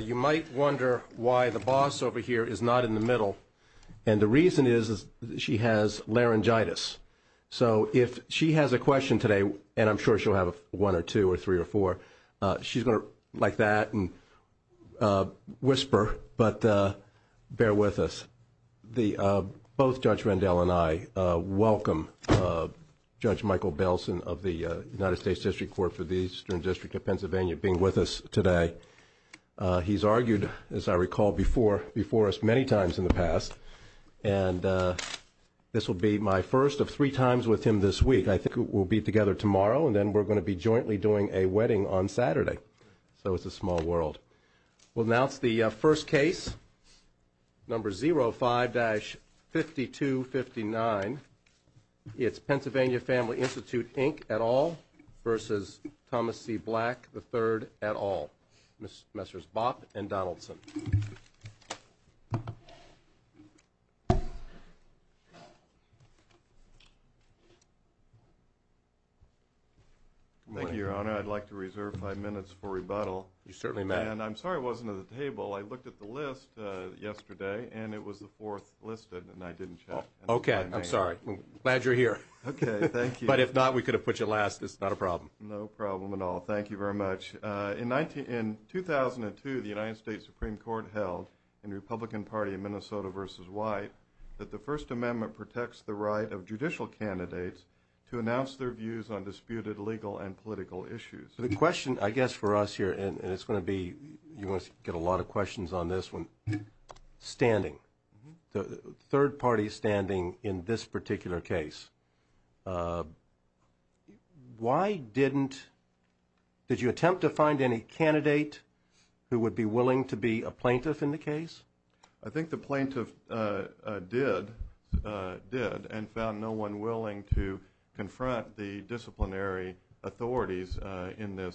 You might wonder why the boss over here is not in the middle, and the reason is she has laryngitis. So if she has a question today, and I'm sure she'll have one or two or three or four, she's going to like that and whisper, but bear with us. Both Judge Rendell and I welcome Judge Michael Belson of the United States District Court for the Eastern District of Pennsylvania being with us today. He's argued, as I recall, before us many times in the past, and this will be my first of three times with him this week. I think we'll be together tomorrow, and then we're going to be jointly doing a wedding on Saturday. So it's a small world. We'll announce the first case, number 05-5259. It's Pennsylvania Family Institute, Inc., et al. versus Thomas C. Black III, et al. Messrs. Bopp and Donaldson. Thank you, Your Honor. I'd like to reserve five minutes for rebuttal. You certainly may. And I'm sorry it wasn't at the table. I looked at the list yesterday, and it was the fourth listed, and I didn't check. Okay. I'm sorry. I'm glad you're here. Okay. Thank you. But if not, we could have put you last. It's not a problem. No problem at all. Thank you very much. In 2002, the United States Supreme Court held in the Republican Party in Minnesota versus White that the First Amendment protects the right of judicial candidates to announce their views on disputed legal and political issues. The question, I guess, for us here, and it's going to be, you're going to get a lot of questions on this one, standing, third-party standing in this particular case. Why didn't, did you attempt to find any candidate who would be willing to be a plaintiff in the case? I think the plaintiff did, did, and found no one willing to confront the disciplinary authorities in this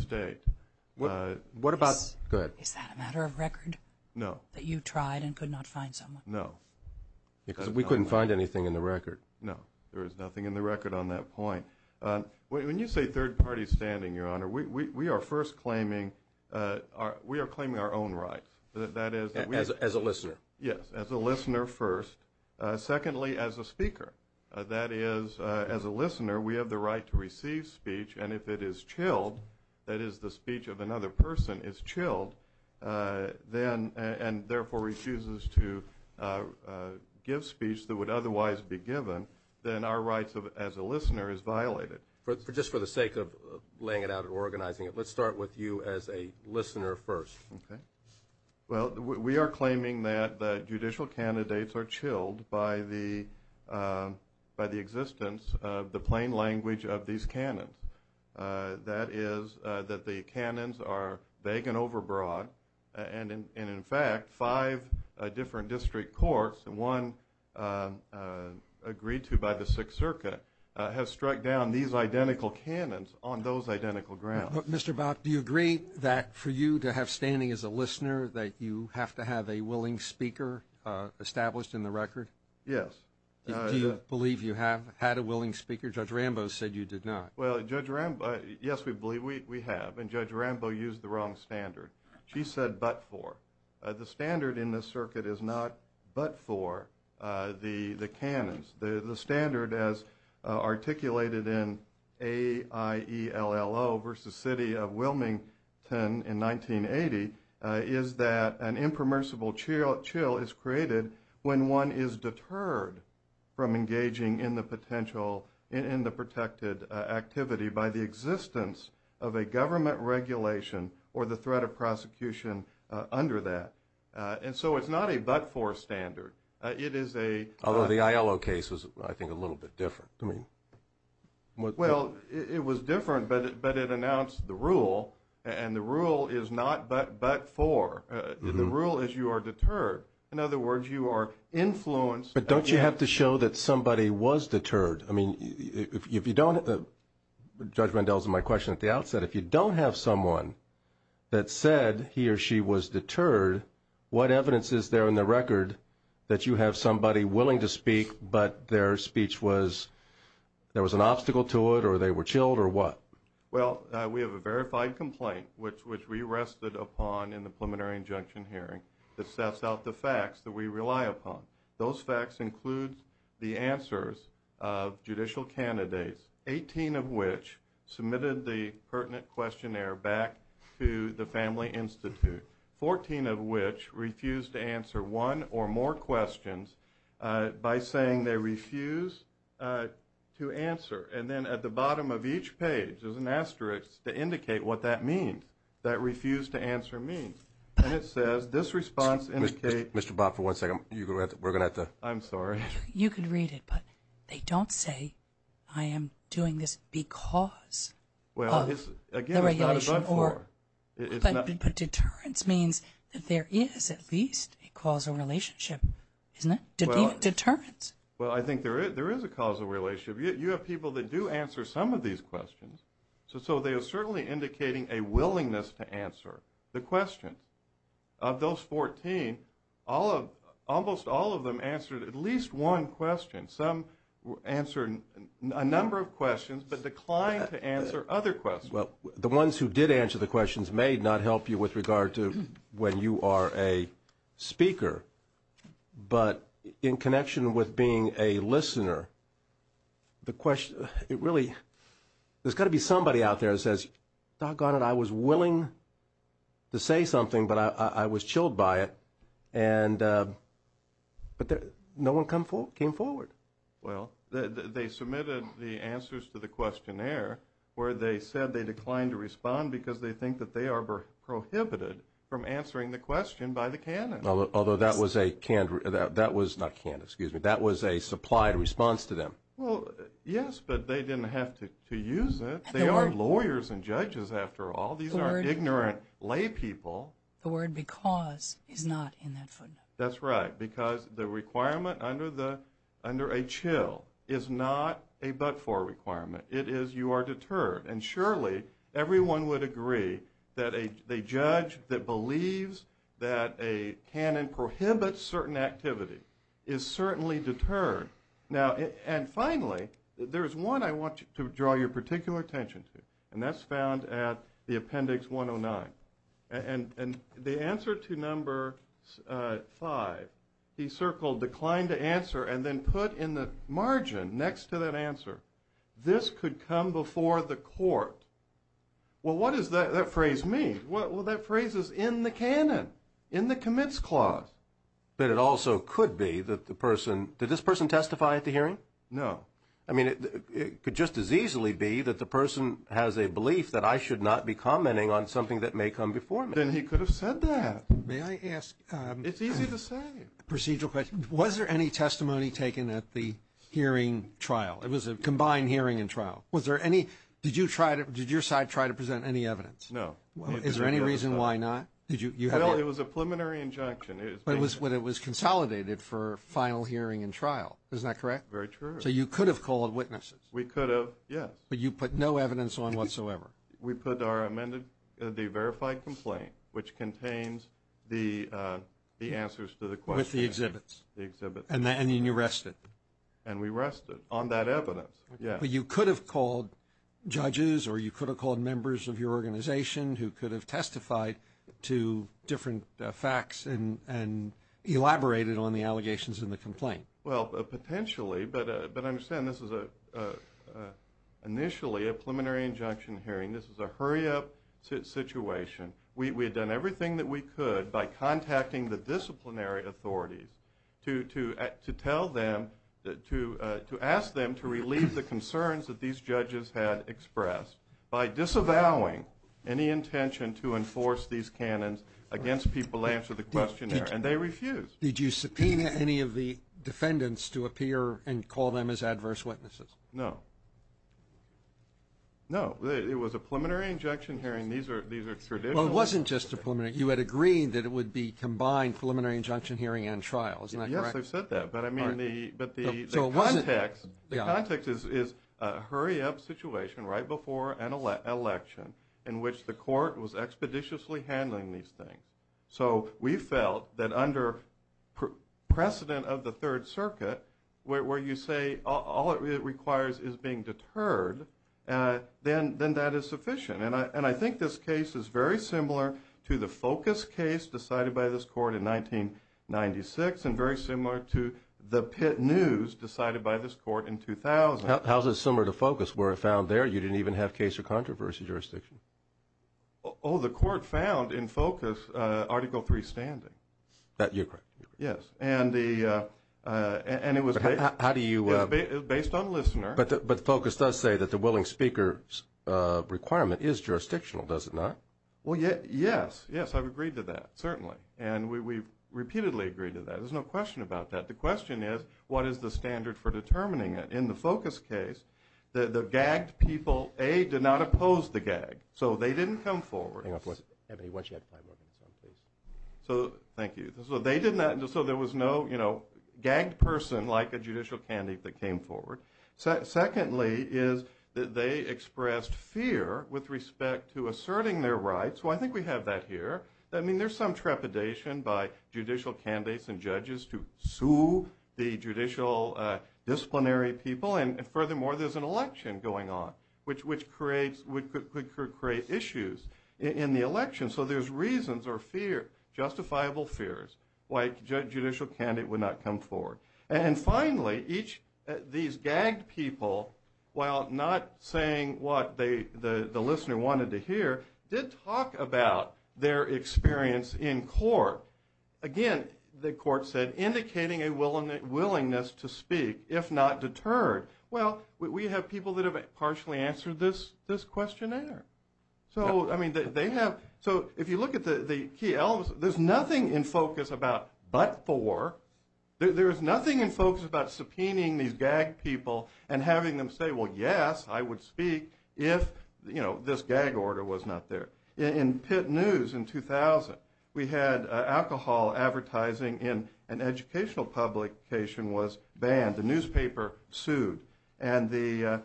state. What about – go ahead. Is that a matter of record? No. That you tried and could not find someone? No. Because we couldn't find anything in the record. No. There was nothing in the record on that point. When you say third-party standing, Your Honor, we are first claiming our own rights. As a listener. Yes, as a listener first. Secondly, as a speaker. That is, as a listener, we have the right to receive speech, and if it is chilled, that is, the speech of another person is chilled, and therefore refuses to give speech that would otherwise be given, then our rights as a listener is violated. Just for the sake of laying it out and organizing it, let's start with you as a listener first. Okay. Well, we are claiming that the judicial candidates are chilled by the existence of the plain language of these canons. That is, that the canons are vague and overbroad, and in fact, five different district courts, and one agreed to by the Sixth Circuit, has struck down these identical canons on those identical grounds. Mr. Bout, do you agree that for you to have standing as a listener, that you have to have a willing speaker established in the record? Yes. Do you believe you have had a willing speaker? Judge Rambos said you did not. Well, Judge Rambos, yes, we believe we have, and Judge Rambos used the wrong standard. She said but for. The standard in this circuit is not but for the canons. The standard, as articulated in AIELLO v. City of Wilmington in 1980, is that an impermersible chill is created when one is deterred from engaging in the potential, in the protected activity by the existence of a government regulation or the threat of prosecution under that. And so it's not a but for standard. Although the AIELLO case was, I think, a little bit different. Well, it was different, but it announced the rule, and the rule is not but for. The rule is you are deterred. In other words, you are influenced. But don't you have to show that somebody was deterred? I mean, if you don't, Judge Rendell's my question at the outset. If you don't have someone that said he or she was deterred, what evidence is there in the record that you have somebody willing to speak, but their speech was there was an obstacle to it or they were chilled or what? Well, we have a verified complaint, which we rested upon in the preliminary injunction hearing that sets out the facts that we rely upon. Those facts include the answers of judicial candidates, 18 of which submitted the pertinent questionnaire back to the Family Institute, 14 of which refused to answer one or more questions by saying they refused to answer. And then at the bottom of each page is an asterisk to indicate what that means, that refuse to answer means. And it says this response indicates Mr. Bob, for one second, we're going to have to. I'm sorry. You can read it, but they don't say I am doing this because of the regulation. But deterrence means that there is at least a causal relationship, isn't it? Deterrence. Well, I think there is a causal relationship. You have people that do answer some of these questions. So they are certainly indicating a willingness to answer the questions. Of those 14, almost all of them answered at least one question. Some answered a number of questions but declined to answer other questions. Well, the ones who did answer the questions may not help you with regard to when you are a speaker. But in connection with being a listener, the question, it really, there's got to be somebody out there that says, doggone it, I was willing to say something, but I was chilled by it. And but no one came forward. Well, they submitted the answers to the questionnaire where they said they declined to respond because they think that they are prohibited from answering the question by the canon. Although that was a canned, that was not canned, excuse me. That was a supplied response to them. Well, yes, but they didn't have to use it. They are lawyers and judges after all. These are ignorant lay people. The word because is not in that footnote. That's right, because the requirement under a chill is not a but-for requirement. It is you are deterred. And surely everyone would agree that a judge that believes that a canon prohibits certain activity is certainly deterred. Now, and finally, there's one I want you to draw your particular attention to, and that's found at the appendix 109. And the answer to number five, he circled declined to answer and then put in the margin next to that answer. This could come before the court. Well, what does that phrase mean? Well, that phrase is in the canon, in the commits clause. But it also could be that the person, did this person testify at the hearing? No. I mean, it could just as easily be that the person has a belief that I should not be commenting on something that may come before me. Then he could have said that. May I ask? It's easy to say. Procedural question. Was there any testimony taken at the hearing trial? It was a combined hearing and trial. Did your side try to present any evidence? No. Is there any reason why not? Well, it was a preliminary injunction. But it was consolidated for final hearing and trial. Is that correct? Very true. So you could have called witnesses. We could have, yes. But you put no evidence on whatsoever. We put the verified complaint, which contains the answers to the question. With the exhibits. The exhibits. And then you rested. And we rested. On that evidence, yes. But you could have called judges or you could have called members of your organization who could have testified to different facts and elaborated on the allegations in the complaint. Well, potentially. But understand, this is initially a preliminary injunction hearing. This is a hurry-up situation. We had done everything that we could by contacting the disciplinary authorities to tell them, to ask them to relieve the concerns that these judges had expressed by disavowing any intention to enforce these canons against people answering the questionnaire. And they refused. Did you subpoena any of the defendants to appear and call them as adverse witnesses? No. No. It was a preliminary injunction hearing. These are traditional. Well, it wasn't just a preliminary. You had agreed that it would be combined preliminary injunction hearing and trial. Isn't that correct? Yes, they said that. But, I mean, the context is a hurry-up situation right before an election in which the court was expeditiously handling these things. So we felt that under precedent of the Third Circuit, where you say all it requires is being deterred, then that is sufficient. And I think this case is very similar to the Focus case decided by this court in 1996 and very similar to the Pitt News decided by this court in 2000. How is it similar to Focus where it found there you didn't even have case or controversy jurisdiction? Oh, the court found in Focus Article III standing. You're correct. Yes. And it was based on listener. But Focus does say that the willing speaker's requirement is jurisdictional, does it not? Well, yes. Yes, I've agreed to that, certainly. And we've repeatedly agreed to that. There's no question about that. The question is, what is the standard for determining it? In the Focus case, the gagged people, A, did not oppose the gag, so they didn't come forward. Hang on for a second. Once you have five more minutes on, please. Thank you. So there was no gagged person like a judicial candidate that came forward. Secondly is that they expressed fear with respect to asserting their rights. So I think we have that here. I mean, there's some trepidation by judicial candidates and judges to sue the judicial disciplinary people. And furthermore, there's an election going on, which could create issues in the election. So there's reasons or fear, justifiable fears, why a judicial candidate would not come forward. And finally, these gagged people, while not saying what the listener wanted to hear, did talk about their experience in court. Again, the court said, indicating a willingness to speak if not deterred. Well, we have people that have partially answered this questionnaire. So if you look at the key elements, there's nothing in Focus about but for. There's nothing in Focus about subpoenaing these gagged people and having them say, well, yes, I would speak if this gag order was not there. In Pitt News in 2000, we had alcohol advertising in an educational publication was banned. The newspaper sued. And the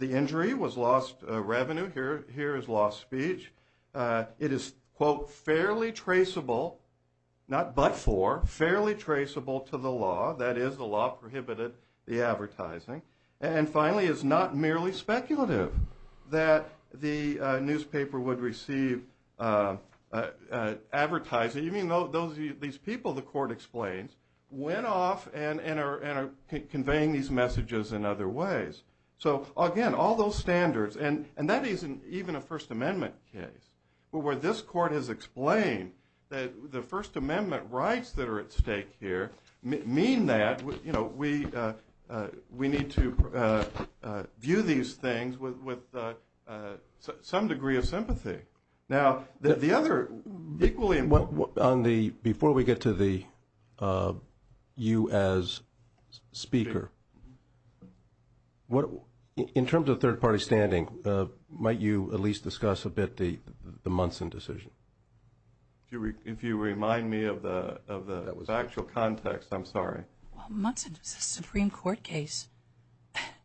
injury was lost revenue. Here is lost speech. It is, quote, fairly traceable, not but for, fairly traceable to the law. That is, the law prohibited the advertising. And finally, it's not merely speculative that the newspaper would receive advertising. These people, the court explains, went off and are conveying these messages in other ways. So, again, all those standards, and that isn't even a First Amendment case. Where this court has explained that the First Amendment rights that are at stake here mean that we need to view these things with some degree of sympathy. Now, the other equally important. Before we get to the you as speaker, in terms of third-party standing, might you at least discuss a bit the Munson decision? If you remind me of the factual context, I'm sorry. Well, Munson is a Supreme Court case.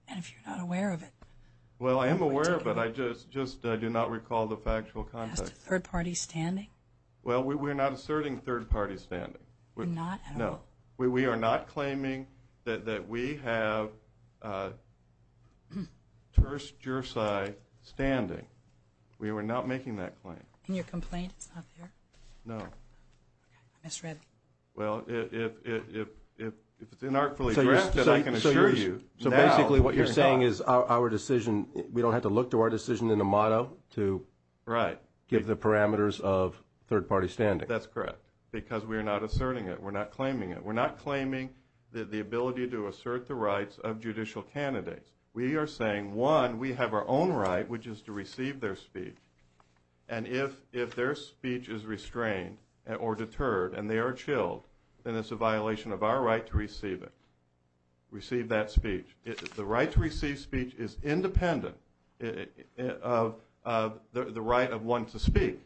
And if you're not aware of it. Well, I am aware of it. I just do not recall the factual context. As to third-party standing? Well, we're not asserting third-party standing. We're not at all? No. We are not claiming that we have terse jurisdiction standing. We are not making that claim. Can you complain it's not there? No. Okay. Ms. Red. Well, if it's inartfully drafted, I can assure you. So basically what you're saying is our decision, we don't have to look to our decision in the motto to give the parameters of third-party standing. That's correct. Because we're not asserting it. We're not claiming it. We're not claiming the ability to assert the rights of judicial candidates. We are saying, one, we have our own right, which is to receive their speech. And if their speech is restrained or deterred and they are chilled, then it's a violation of our right to receive it. The right to receive speech is independent of the right of one to speak.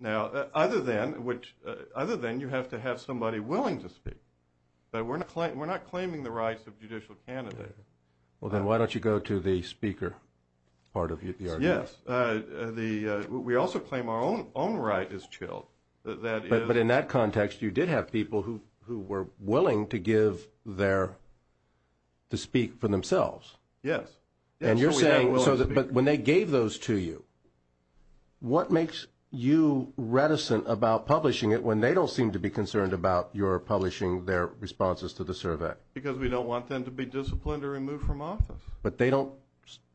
Now, other than you have to have somebody willing to speak. We're not claiming the rights of judicial candidates. Well, then why don't you go to the speaker part of the argument? Yes. We also claim our own right is chilled. But in that context, you did have people who were willing to give their, to speak for themselves. Yes. And you're saying, but when they gave those to you, what makes you reticent about publishing it when they don't seem to be concerned about your publishing their responses to the survey? Because we don't want them to be disciplined or removed from office. But they don't,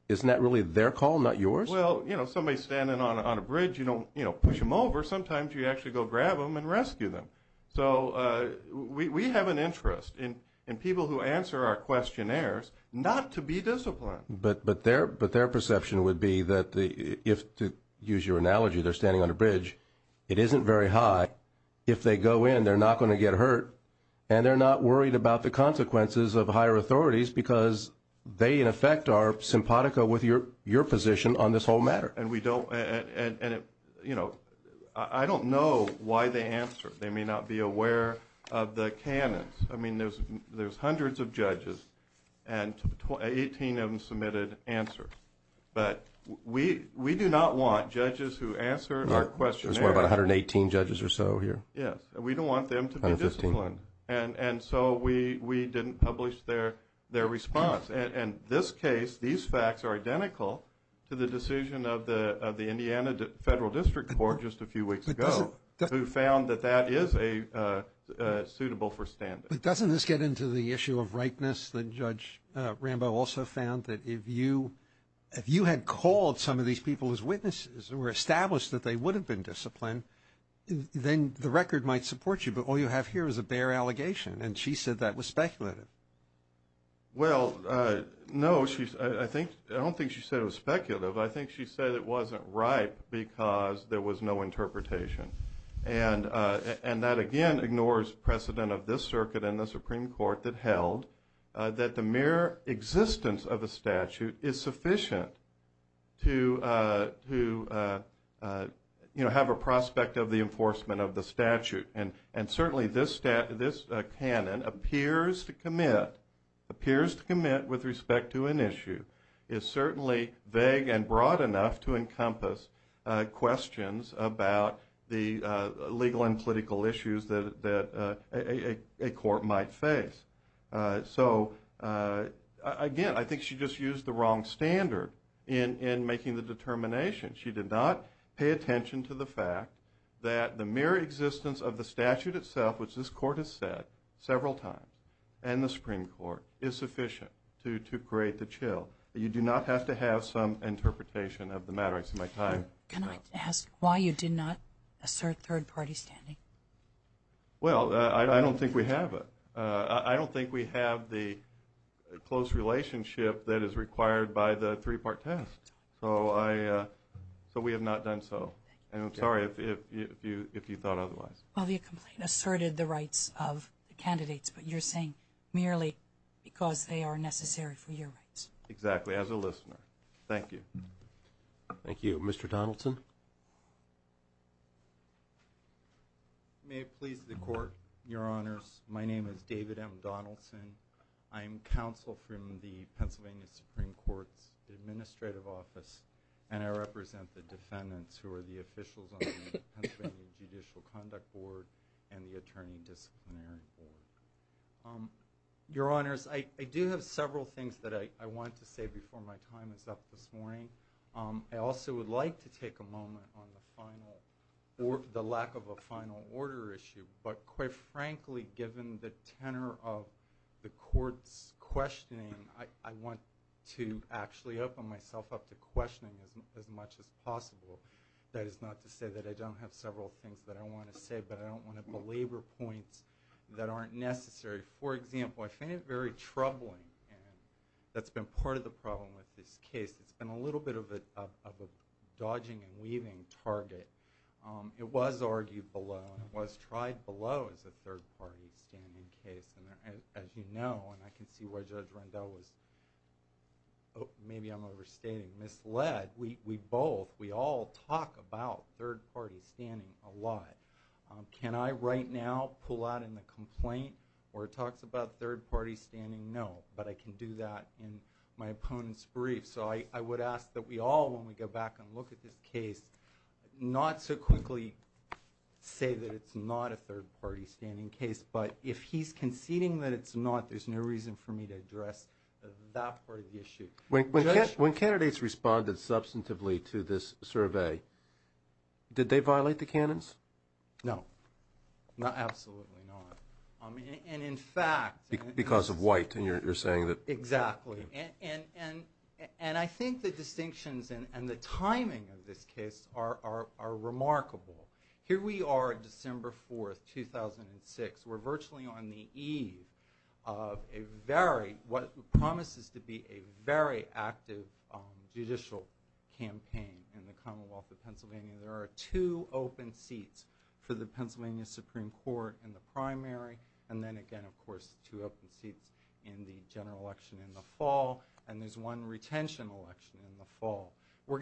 isn't that really their call, not yours? Well, you know, somebody standing on a bridge, you don't, you know, push them over. Sometimes you actually go grab them and rescue them. So we have an interest in people who answer our questionnaires not to be disciplined. But their perception would be that if, to use your analogy, they're standing on a bridge, it isn't very high. If they go in, they're not going to get hurt. And they're not worried about the consequences of higher authorities because they, in effect, are simpatico with your position on this whole matter. And we don't, and, you know, I don't know why they answer. They may not be aware of the canons. I mean, there's hundreds of judges, and 18 of them submitted answers. But we do not want judges who answer our questionnaires. There's, what, about 118 judges or so here? Yes. We don't want them to be disciplined. And so we didn't publish their response. And this case, these facts are identical to the decision of the Indiana Federal District Court just a few weeks ago who found that that is suitable for standing. But doesn't this get into the issue of rightness that Judge Rambo also found? That if you had called some of these people as witnesses or established that they would have been disciplined, then the record might support you. But all you have here is a bare allegation, and she said that was speculative. Well, no, I don't think she said it was speculative. I think she said it wasn't right because there was no interpretation. And that, again, ignores precedent of this circuit and the Supreme Court that held that the mere existence of a statute is sufficient to have a prospect of the enforcement of the statute. And certainly this canon appears to commit with respect to an issue is certainly vague and broad enough to encompass questions about the legal and political issues that a court might face. So, again, I think she just used the wrong standard in making the determination. She did not pay attention to the fact that the mere existence of the statute itself, which this court has said several times and the Supreme Court, is sufficient to create the chill. You do not have to have some interpretation of the matter. I see my time is up. Can I ask why you did not assert third-party standing? Well, I don't think we have it. I don't think we have the close relationship that is required by the three-part test. So we have not done so. And I'm sorry if you thought otherwise. Well, the complaint asserted the rights of the candidates, but you're saying merely because they are necessary for your rights. Exactly. As a listener. Thank you. Thank you. Mr. Donaldson? May it please the Court, Your Honors, my name is David M. Donaldson. I am counsel from the Pennsylvania Supreme Court's administrative office, and I represent the defendants who are the officials on the Pennsylvania Judicial Conduct Board and the Attorney Disciplinary Board. Your Honors, I do have several things that I wanted to say before my time is up this morning. I also would like to take a moment on the lack of a final order issue. But quite frankly, given the tenor of the Court's questioning, I want to actually open myself up to questioning as much as possible. That is not to say that I don't have several things that I want to say, but I don't want to belabor points that aren't necessary. For example, I find it very troubling, and that's been part of the problem with this case. It's been a little bit of a dodging and weaving target. It was argued below, and it was tried below as a third-party standing case. As you know, and I can see why Judge Rendell was, maybe I'm overstating, misled. We both, we all talk about third-party standing a lot. Can I right now pull out in the complaint where it talks about third-party standing? No, but I can do that in my opponent's brief. So I would ask that we all, when we go back and look at this case, not so quickly say that it's not a third-party standing case. But if he's conceding that it's not, there's no reason for me to address that part of the issue. When candidates responded substantively to this survey, did they violate the canons? No, absolutely not. And in fact— Because of white, and you're saying that— And I think the distinctions and the timing of this case are remarkable. Here we are, December 4, 2006. We're virtually on the eve of what promises to be a very active judicial campaign in the Commonwealth of Pennsylvania. There are two open seats for the Pennsylvania Supreme Court in the primary, and then again, of course, two open seats in the general election in the fall. And there's one retention election in the fall. We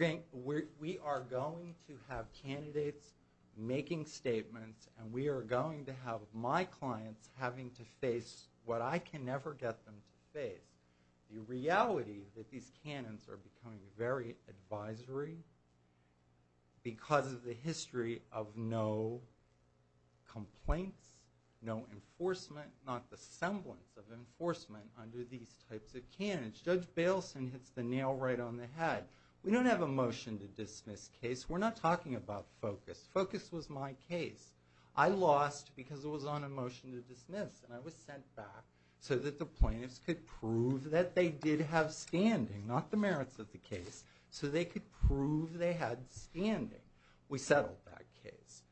are going to have candidates making statements, and we are going to have my clients having to face what I can never get them to face, the reality that these canons are becoming very advisory because of the history of no complaints, no enforcement, not the semblance of enforcement under these types of canons. Judge Bailson hits the nail right on the head. We don't have a motion to dismiss case. We're not talking about focus. Focus was my case. I lost because it was on a motion to dismiss, and I was sent back so that the plaintiffs could prove that they did have standing, not the merits of the case, so they could prove they had standing. We settled that case.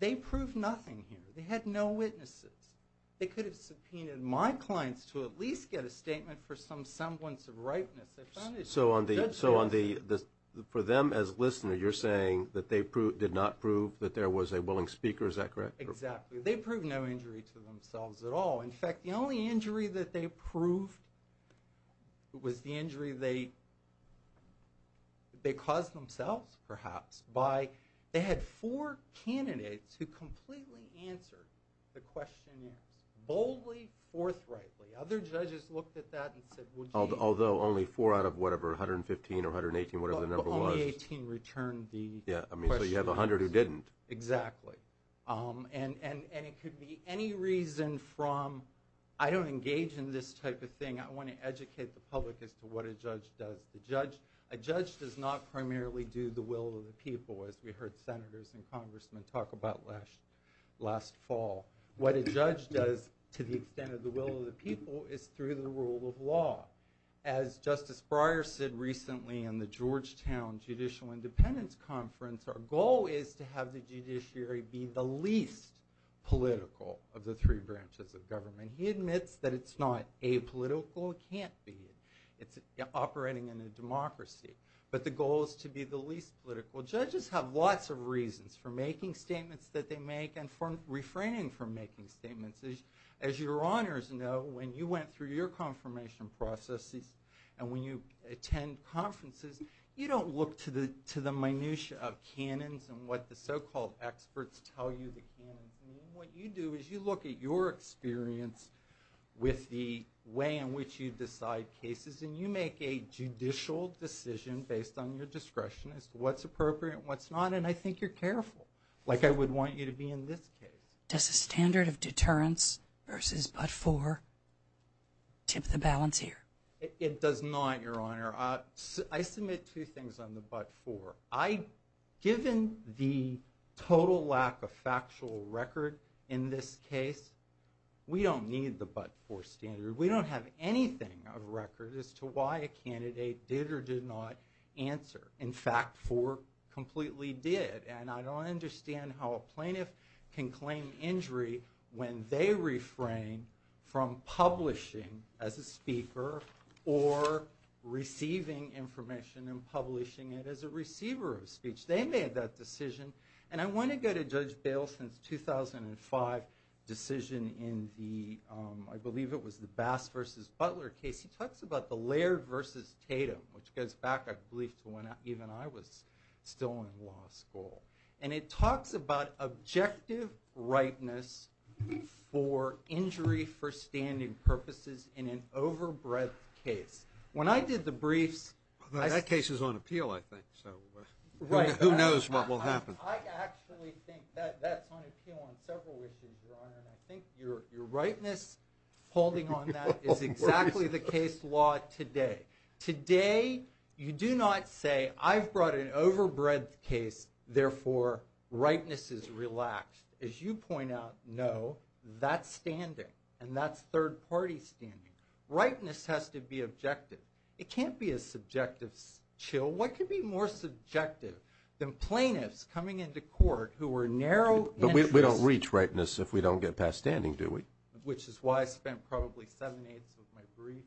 They proved nothing here. They had no witnesses. They could have subpoenaed my clients to at least get a statement for some semblance of ripeness. So for them as listener, you're saying that they did not prove that there was a willing speaker. Is that correct? Exactly. They proved no injury to themselves at all. In fact, the only injury that they proved was the injury they caused themselves, perhaps. They had four candidates who completely answered the questionnaires, boldly, forthrightly. Other judges looked at that and said, well, gee. Although only four out of whatever, 115 or 118, whatever the number was. Only 18 returned the questionnaires. So you have 100 who didn't. Exactly. And it could be any reason from, I don't engage in this type of thing. I want to educate the public as to what a judge does. A judge does not primarily do the will of the people, as we heard senators and congressmen talk about last fall. What a judge does, to the extent of the will of the people, is through the rule of law. As Justice Breyer said recently in the Georgetown Judicial Independence Conference, our goal is to have the judiciary be the least political of the three branches of government. He admits that it's not apolitical. It can't be. It's operating in a democracy. But the goal is to be the least political. Judges have lots of reasons for making statements that they make and for refraining from making statements. As your honors know, when you went through your confirmation processes and when you attend conferences, you don't look to the minutia of canons and what the so-called experts tell you the canons. What you do is you look at your experience with the way in which you decide cases and you make a judicial decision based on your discretion as to what's appropriate and what's not. And I think you're careful, like I would want you to be in this case. Does the standard of deterrence versus but-for tip the balance here? It does not, your honor. I submit two things on the but-for. Given the total lack of factual record in this case, we don't need the but-for standard. We don't have anything of record as to why a candidate did or did not answer. In fact, for completely did. And I don't understand how a plaintiff can claim injury when they refrain from publishing as a speaker or receiving information and publishing it as a receiver of speech. They made that decision. And I want to go to Judge Baleson's 2005 decision in the, I believe it was the Bass v. Butler case. He talks about the Laird v. Tatum, which goes back, I believe, to when even I was still in law school. And it talks about objective rightness for injury for standing purposes in an overbred case. When I did the briefs— That case is on appeal, I think, so who knows what will happen. I actually think that that's on appeal on several issues, your honor. And I think your rightness holding on that is exactly the case law today. Today, you do not say, I've brought an overbred case, therefore rightness is relaxed. As you point out, no. That's standing. And that's third-party standing. Rightness has to be objective. It can't be a subjective chill. What could be more subjective than plaintiffs coming into court who were narrow in interest— But we don't reach rightness if we don't get past standing, do we? Which is why I spent probably seven-eighths of my brief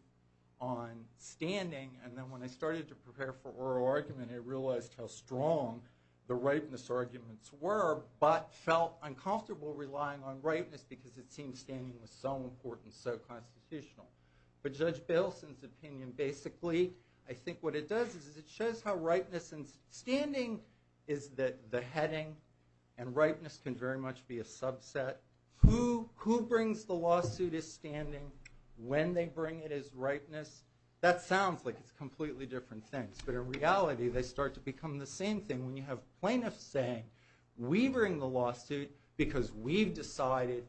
on standing. And then when I started to prepare for oral argument, I realized how strong the rightness arguments were, but felt uncomfortable relying on rightness because it seemed standing was so important, so constitutional. But Judge Bailson's opinion, basically, I think what it does is it shows how rightness and standing is the heading. And rightness can very much be a subset. Who brings the lawsuit as standing? When they bring it as rightness? That sounds like it's completely different things. But in reality, they start to become the same thing when you have plaintiffs saying, we bring the lawsuit because we've decided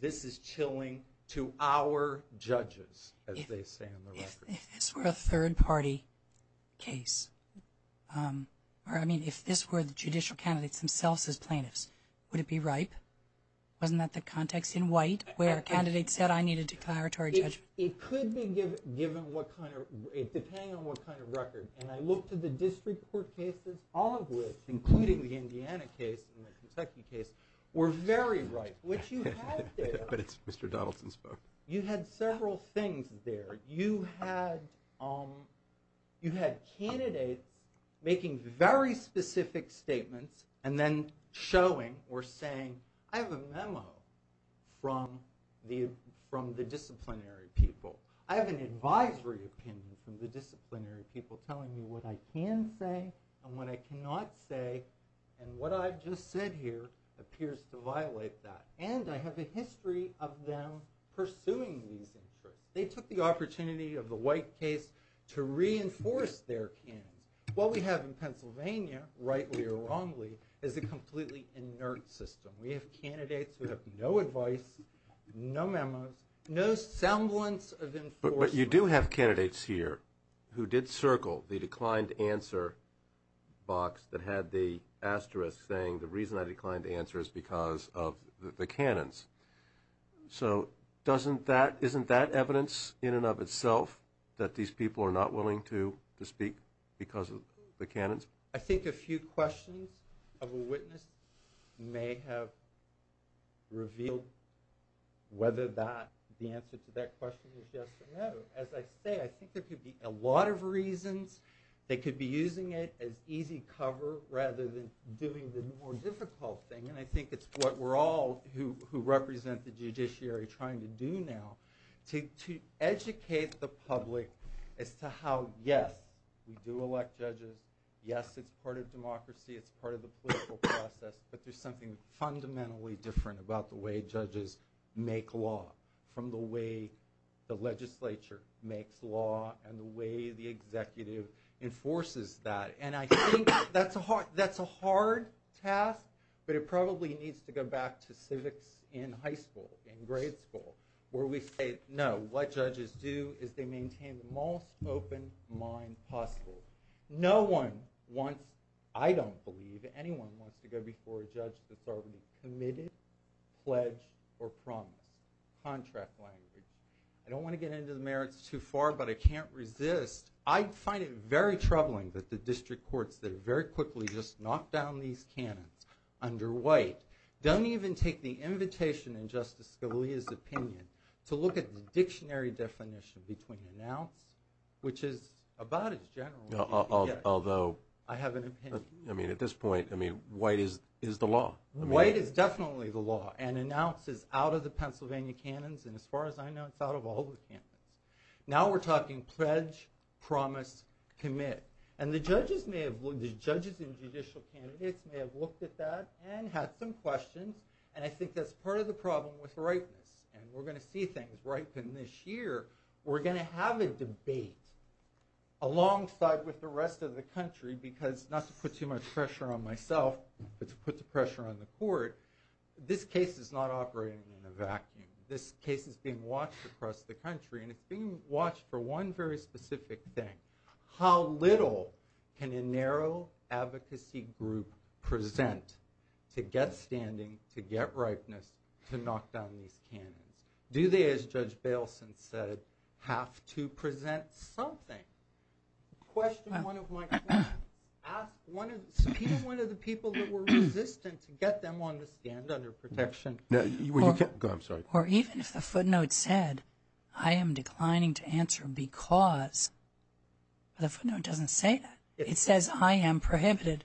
this is chilling to our judges, as they say in the record. If this were a third-party case, or I mean if this were the judicial candidates themselves as plaintiffs, would it be ripe? Wasn't that the context in White where a candidate said I need a declaratory judgment? It could be given what kind of ‑‑ depending on what kind of record. And I looked at the district court cases, all of which, including the Indiana case and the Kentucky case, were very ripe. What you had there ‑‑ But it's Mr. Donaldson's vote. You had several things there. You had candidates making very specific statements and then showing or saying, I have a memo from the disciplinary people. I have an advisory opinion from the disciplinary people telling me what I can say and what I cannot say. And what I've just said here appears to violate that. And I have a history of them pursuing these interests. They took the opportunity of the White case to reinforce their canons. What we have in Pennsylvania, rightly or wrongly, is a completely inert system. We have candidates who have no advice, no memos, no semblance of enforcement. But you do have candidates here who did circle the declined answer box that had the asterisk saying, the reason I declined to answer is because of the canons. So isn't that evidence in and of itself that these people are not willing to speak because of the canons? I think a few questions of a witness may have revealed whether the answer to that question is yes or no. As I say, I think there could be a lot of reasons. They could be using it as easy cover rather than doing the more difficult thing. And I think it's what we're all who represent the judiciary trying to do now, to educate the public as to how, yes, we do elect judges. Yes, it's part of democracy. It's part of the political process. But there's something fundamentally different about the way judges make law from the way the legislature makes law and the way the executive enforces that. And I think that's a hard task, but it probably needs to go back to civics in high school, in grade school, where we say, no, what judges do is they maintain the most open mind possible. No one wants, I don't believe, anyone wants to go before a judge that's already committed, pledged, or promised. Contract language. I don't want to get into the merits too far, but I can't resist. I find it very troubling that the district courts that very quickly just knock down these canons under White don't even take the invitation in Justice Scalia's opinion to look at the dictionary definition between announce, which is about as general as you can get. Although I have an opinion. I mean, at this point, I mean, White is the law. White is definitely the law, and announce is out of the Pennsylvania canons, and as far as I know, it's out of all the canons. Now we're talking pledge, promise, commit. And the judges and judicial candidates may have looked at that and had some questions, and I think that's part of the problem with ripeness, and we're going to see things ripen this year. We're going to have a debate alongside with the rest of the country, because not to put too much pressure on myself, but to put the pressure on the court, this case is not operating in a vacuum. This case is being watched across the country, and it's being watched for one very specific thing. How little can a narrow advocacy group present to get standing, to get ripeness, to knock down these canons? Do they, as Judge Bailson said, have to present something? Question one of my questions. Ask one of the people that were resistant to get them on the stand under protection. Or even if the footnote said, I am declining to answer because, the footnote doesn't say that. It says I am prohibited.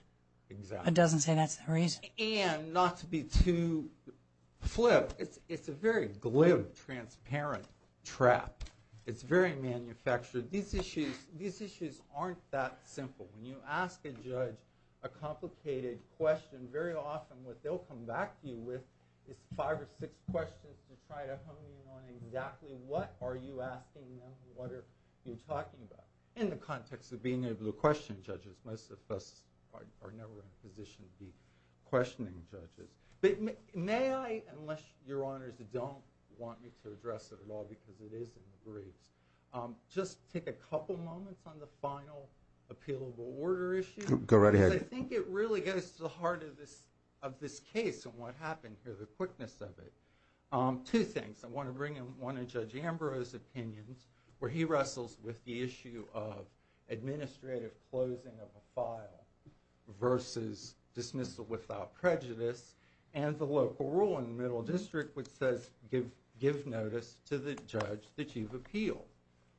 It doesn't say that's the reason. And not to be too flip, it's a very glib, transparent trap. It's very manufactured. These issues aren't that simple. When you ask a judge a complicated question, very often what they'll come back to you with is five or six questions to try to hone in on exactly what are you asking them, what are you talking about. In the context of being able to question judges, most of us are never in a position to be questioning judges. May I, unless your honors don't want me to address it at all because it is in the briefs, just take a couple moments on the final appealable order issue. Go right ahead. Because I think it really goes to the heart of this case and what happened here, the quickness of it. Two things. I want to bring in one of Judge Ambrose's opinions where he wrestles with the issue of administrative closing of a file versus dismissal without prejudice. And the local rule in the middle district which says give notice to the judge that you've appealed.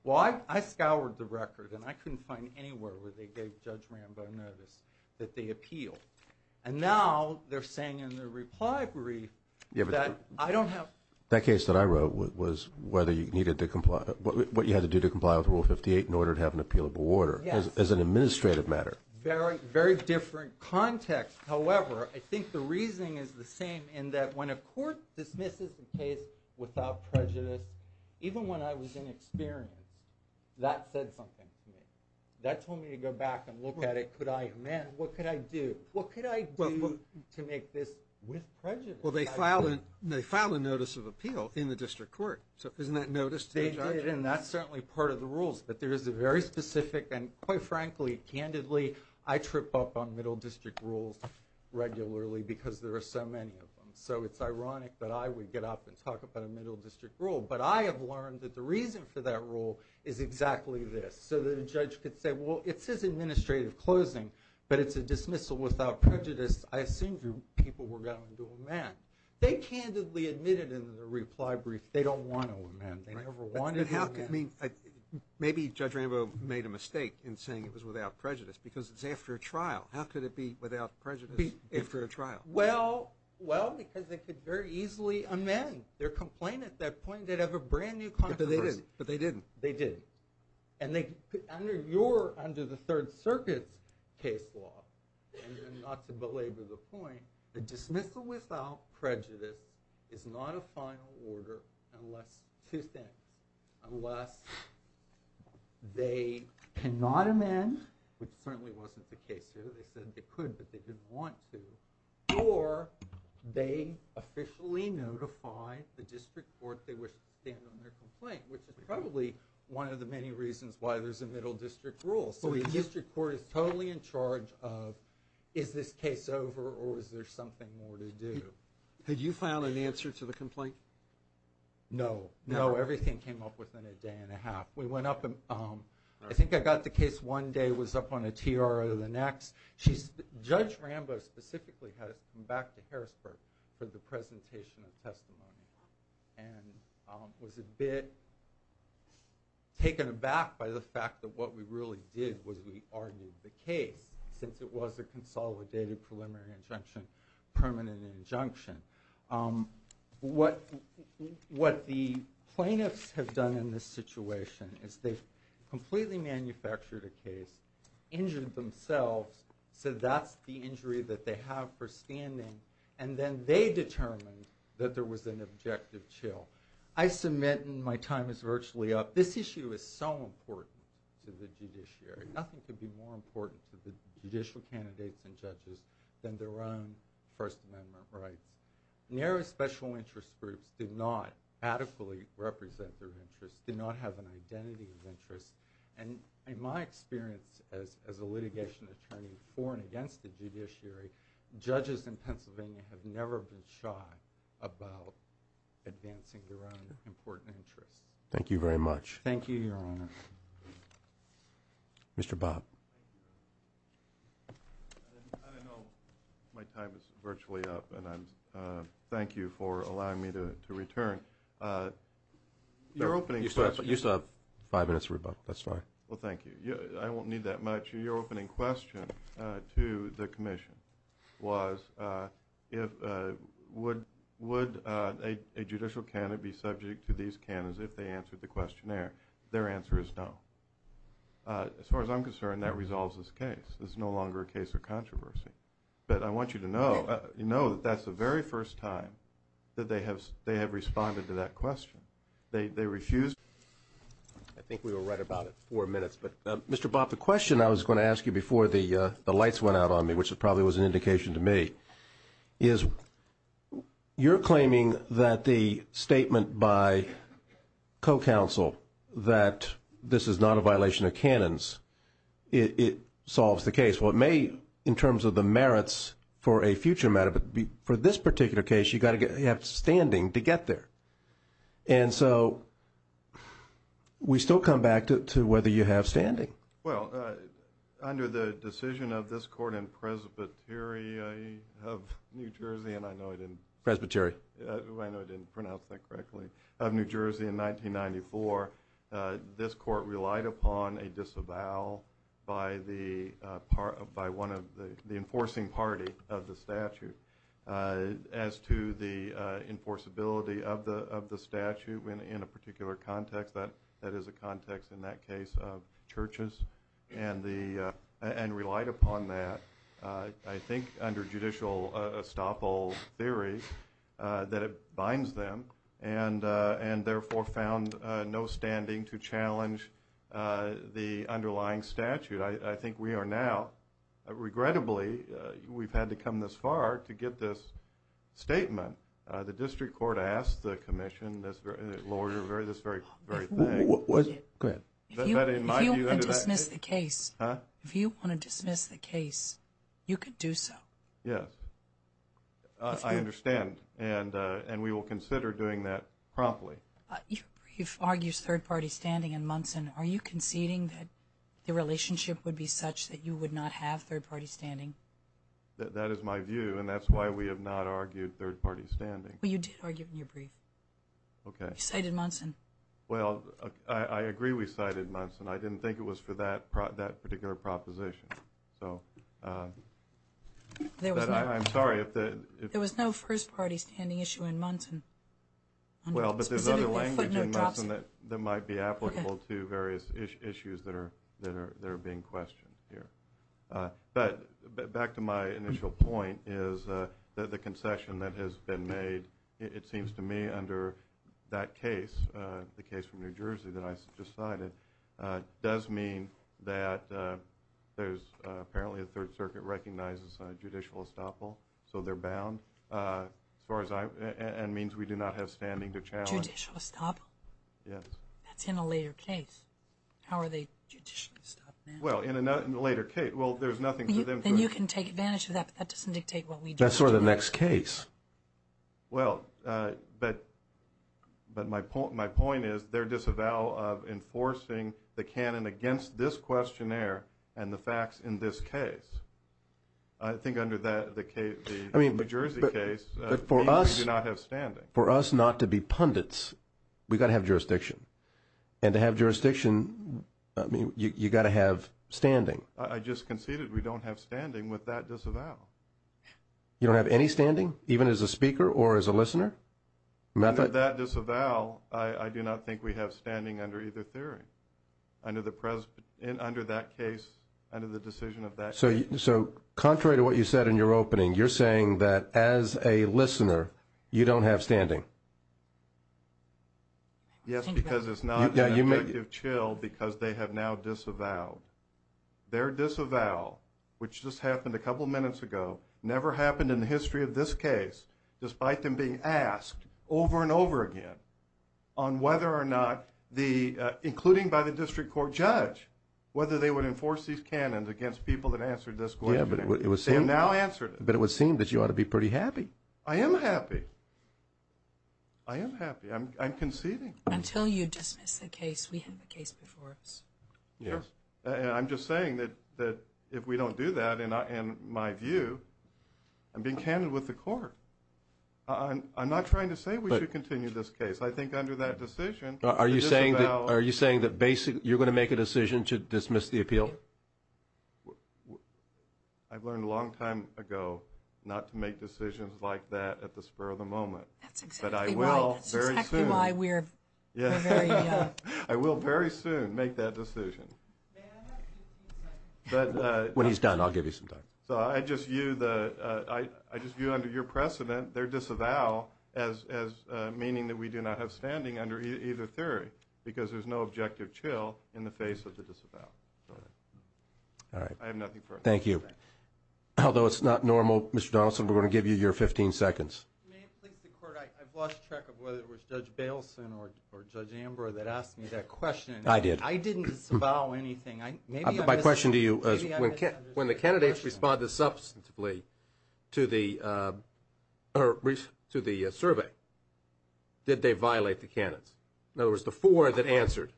Well, I scoured the record and I couldn't find anywhere where they gave Judge Rambo notice that they appealed. And now they're saying in their reply brief that I don't have to. That case that I wrote was whether you needed to comply, what you had to do to comply with Rule 58 in order to have an appealable order as an administrative matter. Very, very different context. However, I think the reasoning is the same in that when a court dismisses the case without prejudice, even when I was inexperienced, that said something to me. That told me to go back and look at it. Man, what could I do? What could I do to make this with prejudice? Well, they filed a notice of appeal in the district court. So isn't that notice to the judge? They did, and that's certainly part of the rules. But there is a very specific, and quite frankly, candidly, I trip up on middle district rules regularly because there are so many of them. So it's ironic that I would get up and talk about a middle district rule. But I have learned that the reason for that rule is exactly this. So that a judge could say, well, it says administrative closing, but it's a dismissal without prejudice. I assumed your people were going to amend. They candidly admitted in their reply brief they don't want to amend. They never wanted to amend. Maybe Judge Rambo made a mistake in saying it was without prejudice because it's after a trial. How could it be without prejudice after a trial? Well, because they could very easily amend their complaint at that point and they'd have a brand-new controversy. But they didn't. They didn't. And under the Third Circuit's case law, and not to belabor the point, the dismissal without prejudice is not a final order unless two things. Unless they cannot amend, which certainly wasn't the case here. They said they could, but they didn't want to. Or they officially notify the district court they wish to stand on their complaint, which is probably one of the many reasons why there's a middle district rule. So the district court is totally in charge of is this case over or is there something more to do. Had you found an answer to the complaint? No. No, everything came up within a day and a half. We went up and I think I got the case one day, was up on a TR the next. Judge Rambo specifically had us come back to Harrisburg for the presentation of testimony and was a bit taken aback by the fact that what we really did was we argued the case, since it was a consolidated preliminary injunction, permanent injunction. What the plaintiffs have done in this situation is they've completely manufactured a case, injured themselves, said that's the injury that they have for standing, and then they determined that there was an objective chill. I submit, and my time is virtually up, this issue is so important to the judiciary. Nothing could be more important to the judicial candidates and judges than their own First Amendment rights. Narrow special interest groups did not adequately represent their interests, did not have an identity of interest. And in my experience as a litigation attorney for and against the judiciary, judges in Pennsylvania have never been shy about advancing their own important interests. Thank you very much. Thank you, Your Honor. Mr. Bobb. I know my time is virtually up, and I thank you for allowing me to return. You still have five minutes, that's fine. Well, thank you. I won't need that much. Your opening question to the commission was, would a judicial candidate be subject to these candidates if they answered the questionnaire? Their answer is no. As far as I'm concerned, that resolves this case. This is no longer a case of controversy. But I want you to know that that's the very first time that they have responded to that question. They refused. I think we were right about it, four minutes. But, Mr. Bobb, the question I was going to ask you before the lights went out on me, which probably was an indication to me, is you're claiming that the statement by co-counsel that this is not a violation of canons, it solves the case. Well, it may in terms of the merits for a future matter, but for this particular case, you've got to have standing to get there. And so we still come back to whether you have standing. Well, under the decision of this court in Presbyteria of New Jersey, and I know I didn't pronounce that correctly, of New Jersey in 1994, this court relied upon a disavowal by one of the enforcing party of the statute. As to the enforceability of the statute in a particular context, that is a context in that case of churches, and relied upon that, I think, under judicial estoppel theory, that it binds them, and therefore found no standing to challenge the underlying statute. I think we are now, regrettably, we've had to come this far to get this statement. The district court asked the commission this very thing. Go ahead. If you want to dismiss the case, you could do so. Yes, I understand, and we will consider doing that promptly. Your brief argues third-party standing in Munson. Are you conceding that the relationship would be such that you would not have third-party standing? That is my view, and that's why we have not argued third-party standing. Well, you did argue it in your brief. Okay. You cited Munson. Well, I agree we cited Munson. I didn't think it was for that particular proposition. I'm sorry. There was no first-party standing issue in Munson. Well, but there's other language in Munson that might be applicable to various issues that are being questioned here. But back to my initial point is that the concession that has been made, it seems to me under that case, the case from New Jersey that I just cited, does mean that there's apparently a Third Circuit recognizes judicial estoppel, so they're bound, and means we do not have standing to challenge. Judicial estoppel? Yes. That's in a later case. How are they judicially estoppel? Well, in a later case, well, there's nothing to them. Then you can take advantage of that, but that doesn't dictate what we do. That's sort of the next case. Well, but my point is they're disavowal of enforcing the canon against this questionnaire and the facts in this case. I think under the New Jersey case, it means we do not have standing. For us not to be pundits, we've got to have jurisdiction. And to have jurisdiction, you've got to have standing. I just conceded we don't have standing with that disavowal. You don't have any standing, even as a speaker or as a listener? Under that disavowal, I do not think we have standing under either theory, under that case, under the decision of that case. So contrary to what you said in your opening, you're saying that as a listener, you don't have standing? Yes, because it's not an evocative chill because they have now disavowed. Their disavowal, which just happened a couple minutes ago, never happened in the history of this case, despite them being asked over and over again on whether or not, including by the district court judge, whether they would enforce these canons against people that answered this questionnaire. They have now answered it. But it would seem that you ought to be pretty happy. I am happy. I am happy. I'm conceding. Until you dismiss the case, we have a case before us. And I'm just saying that if we don't do that, in my view, I'm being candid with the court. I'm not trying to say we should continue this case. I think under that decision, the disavowal… Are you saying that basically you're going to make a decision to dismiss the appeal? I've learned a long time ago not to make decisions like that at the spur of the moment. That's exactly right. But I will very soon. That's exactly why we're very… I will very soon make that decision. May I have 15 seconds? When he's done, I'll give you some time. So I just view under your precedent their disavowal as meaning that we do not have standing under either theory because there's no objective chill in the face of the disavowal. All right. I have nothing further. Thank you. Although it's not normal, Mr. Donaldson, we're going to give you your 15 seconds. May it please the Court, I've lost track of whether it was Judge Baleson or Judge Amber that asked me that question. I did. I didn't disavow anything. My question to you is when the candidates responded substantively to the survey, did they violate the canons? In other words, the four that answered.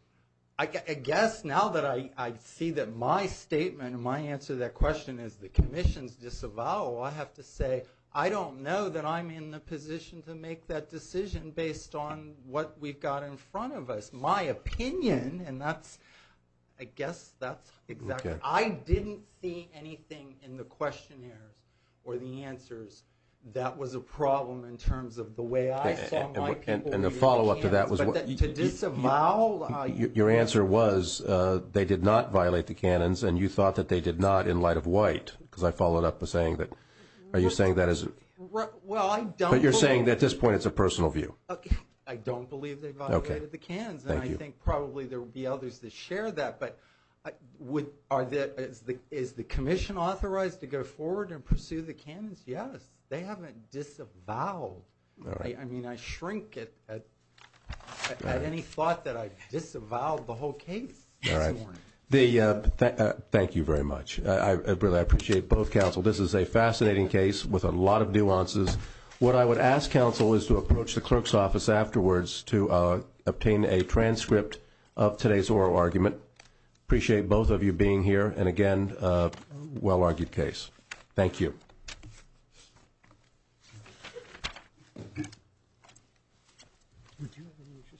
I guess now that I see that my statement and my answer to that question is the commission's disavowal, I have to say I don't know that I'm in the position to make that decision based on what we've got in front of us. My opinion, and that's – I guess that's exactly – I didn't see anything in the questionnaires or the answers that was a problem in terms of the way I saw my people violate the canons. But to disavow – Your answer was they did not violate the canons, and you thought that they did not in light of White, because I followed up with saying that – are you saying that as – Well, I don't believe – But you're saying at this point it's a personal view. I don't believe they violated the canons, and I think probably there would be others that share that. But is the commission authorized to go forward and pursue the canons? Yes. They haven't disavowed. I mean, I shrink at any thought that I disavowed the whole case. All right. Thank you very much. I really appreciate both counsel. This is a fascinating case with a lot of nuances. What I would ask counsel is to approach the clerk's office afterwards to obtain a transcript of today's oral argument. Appreciate both of you being here, and again, a well-argued case. Thank you.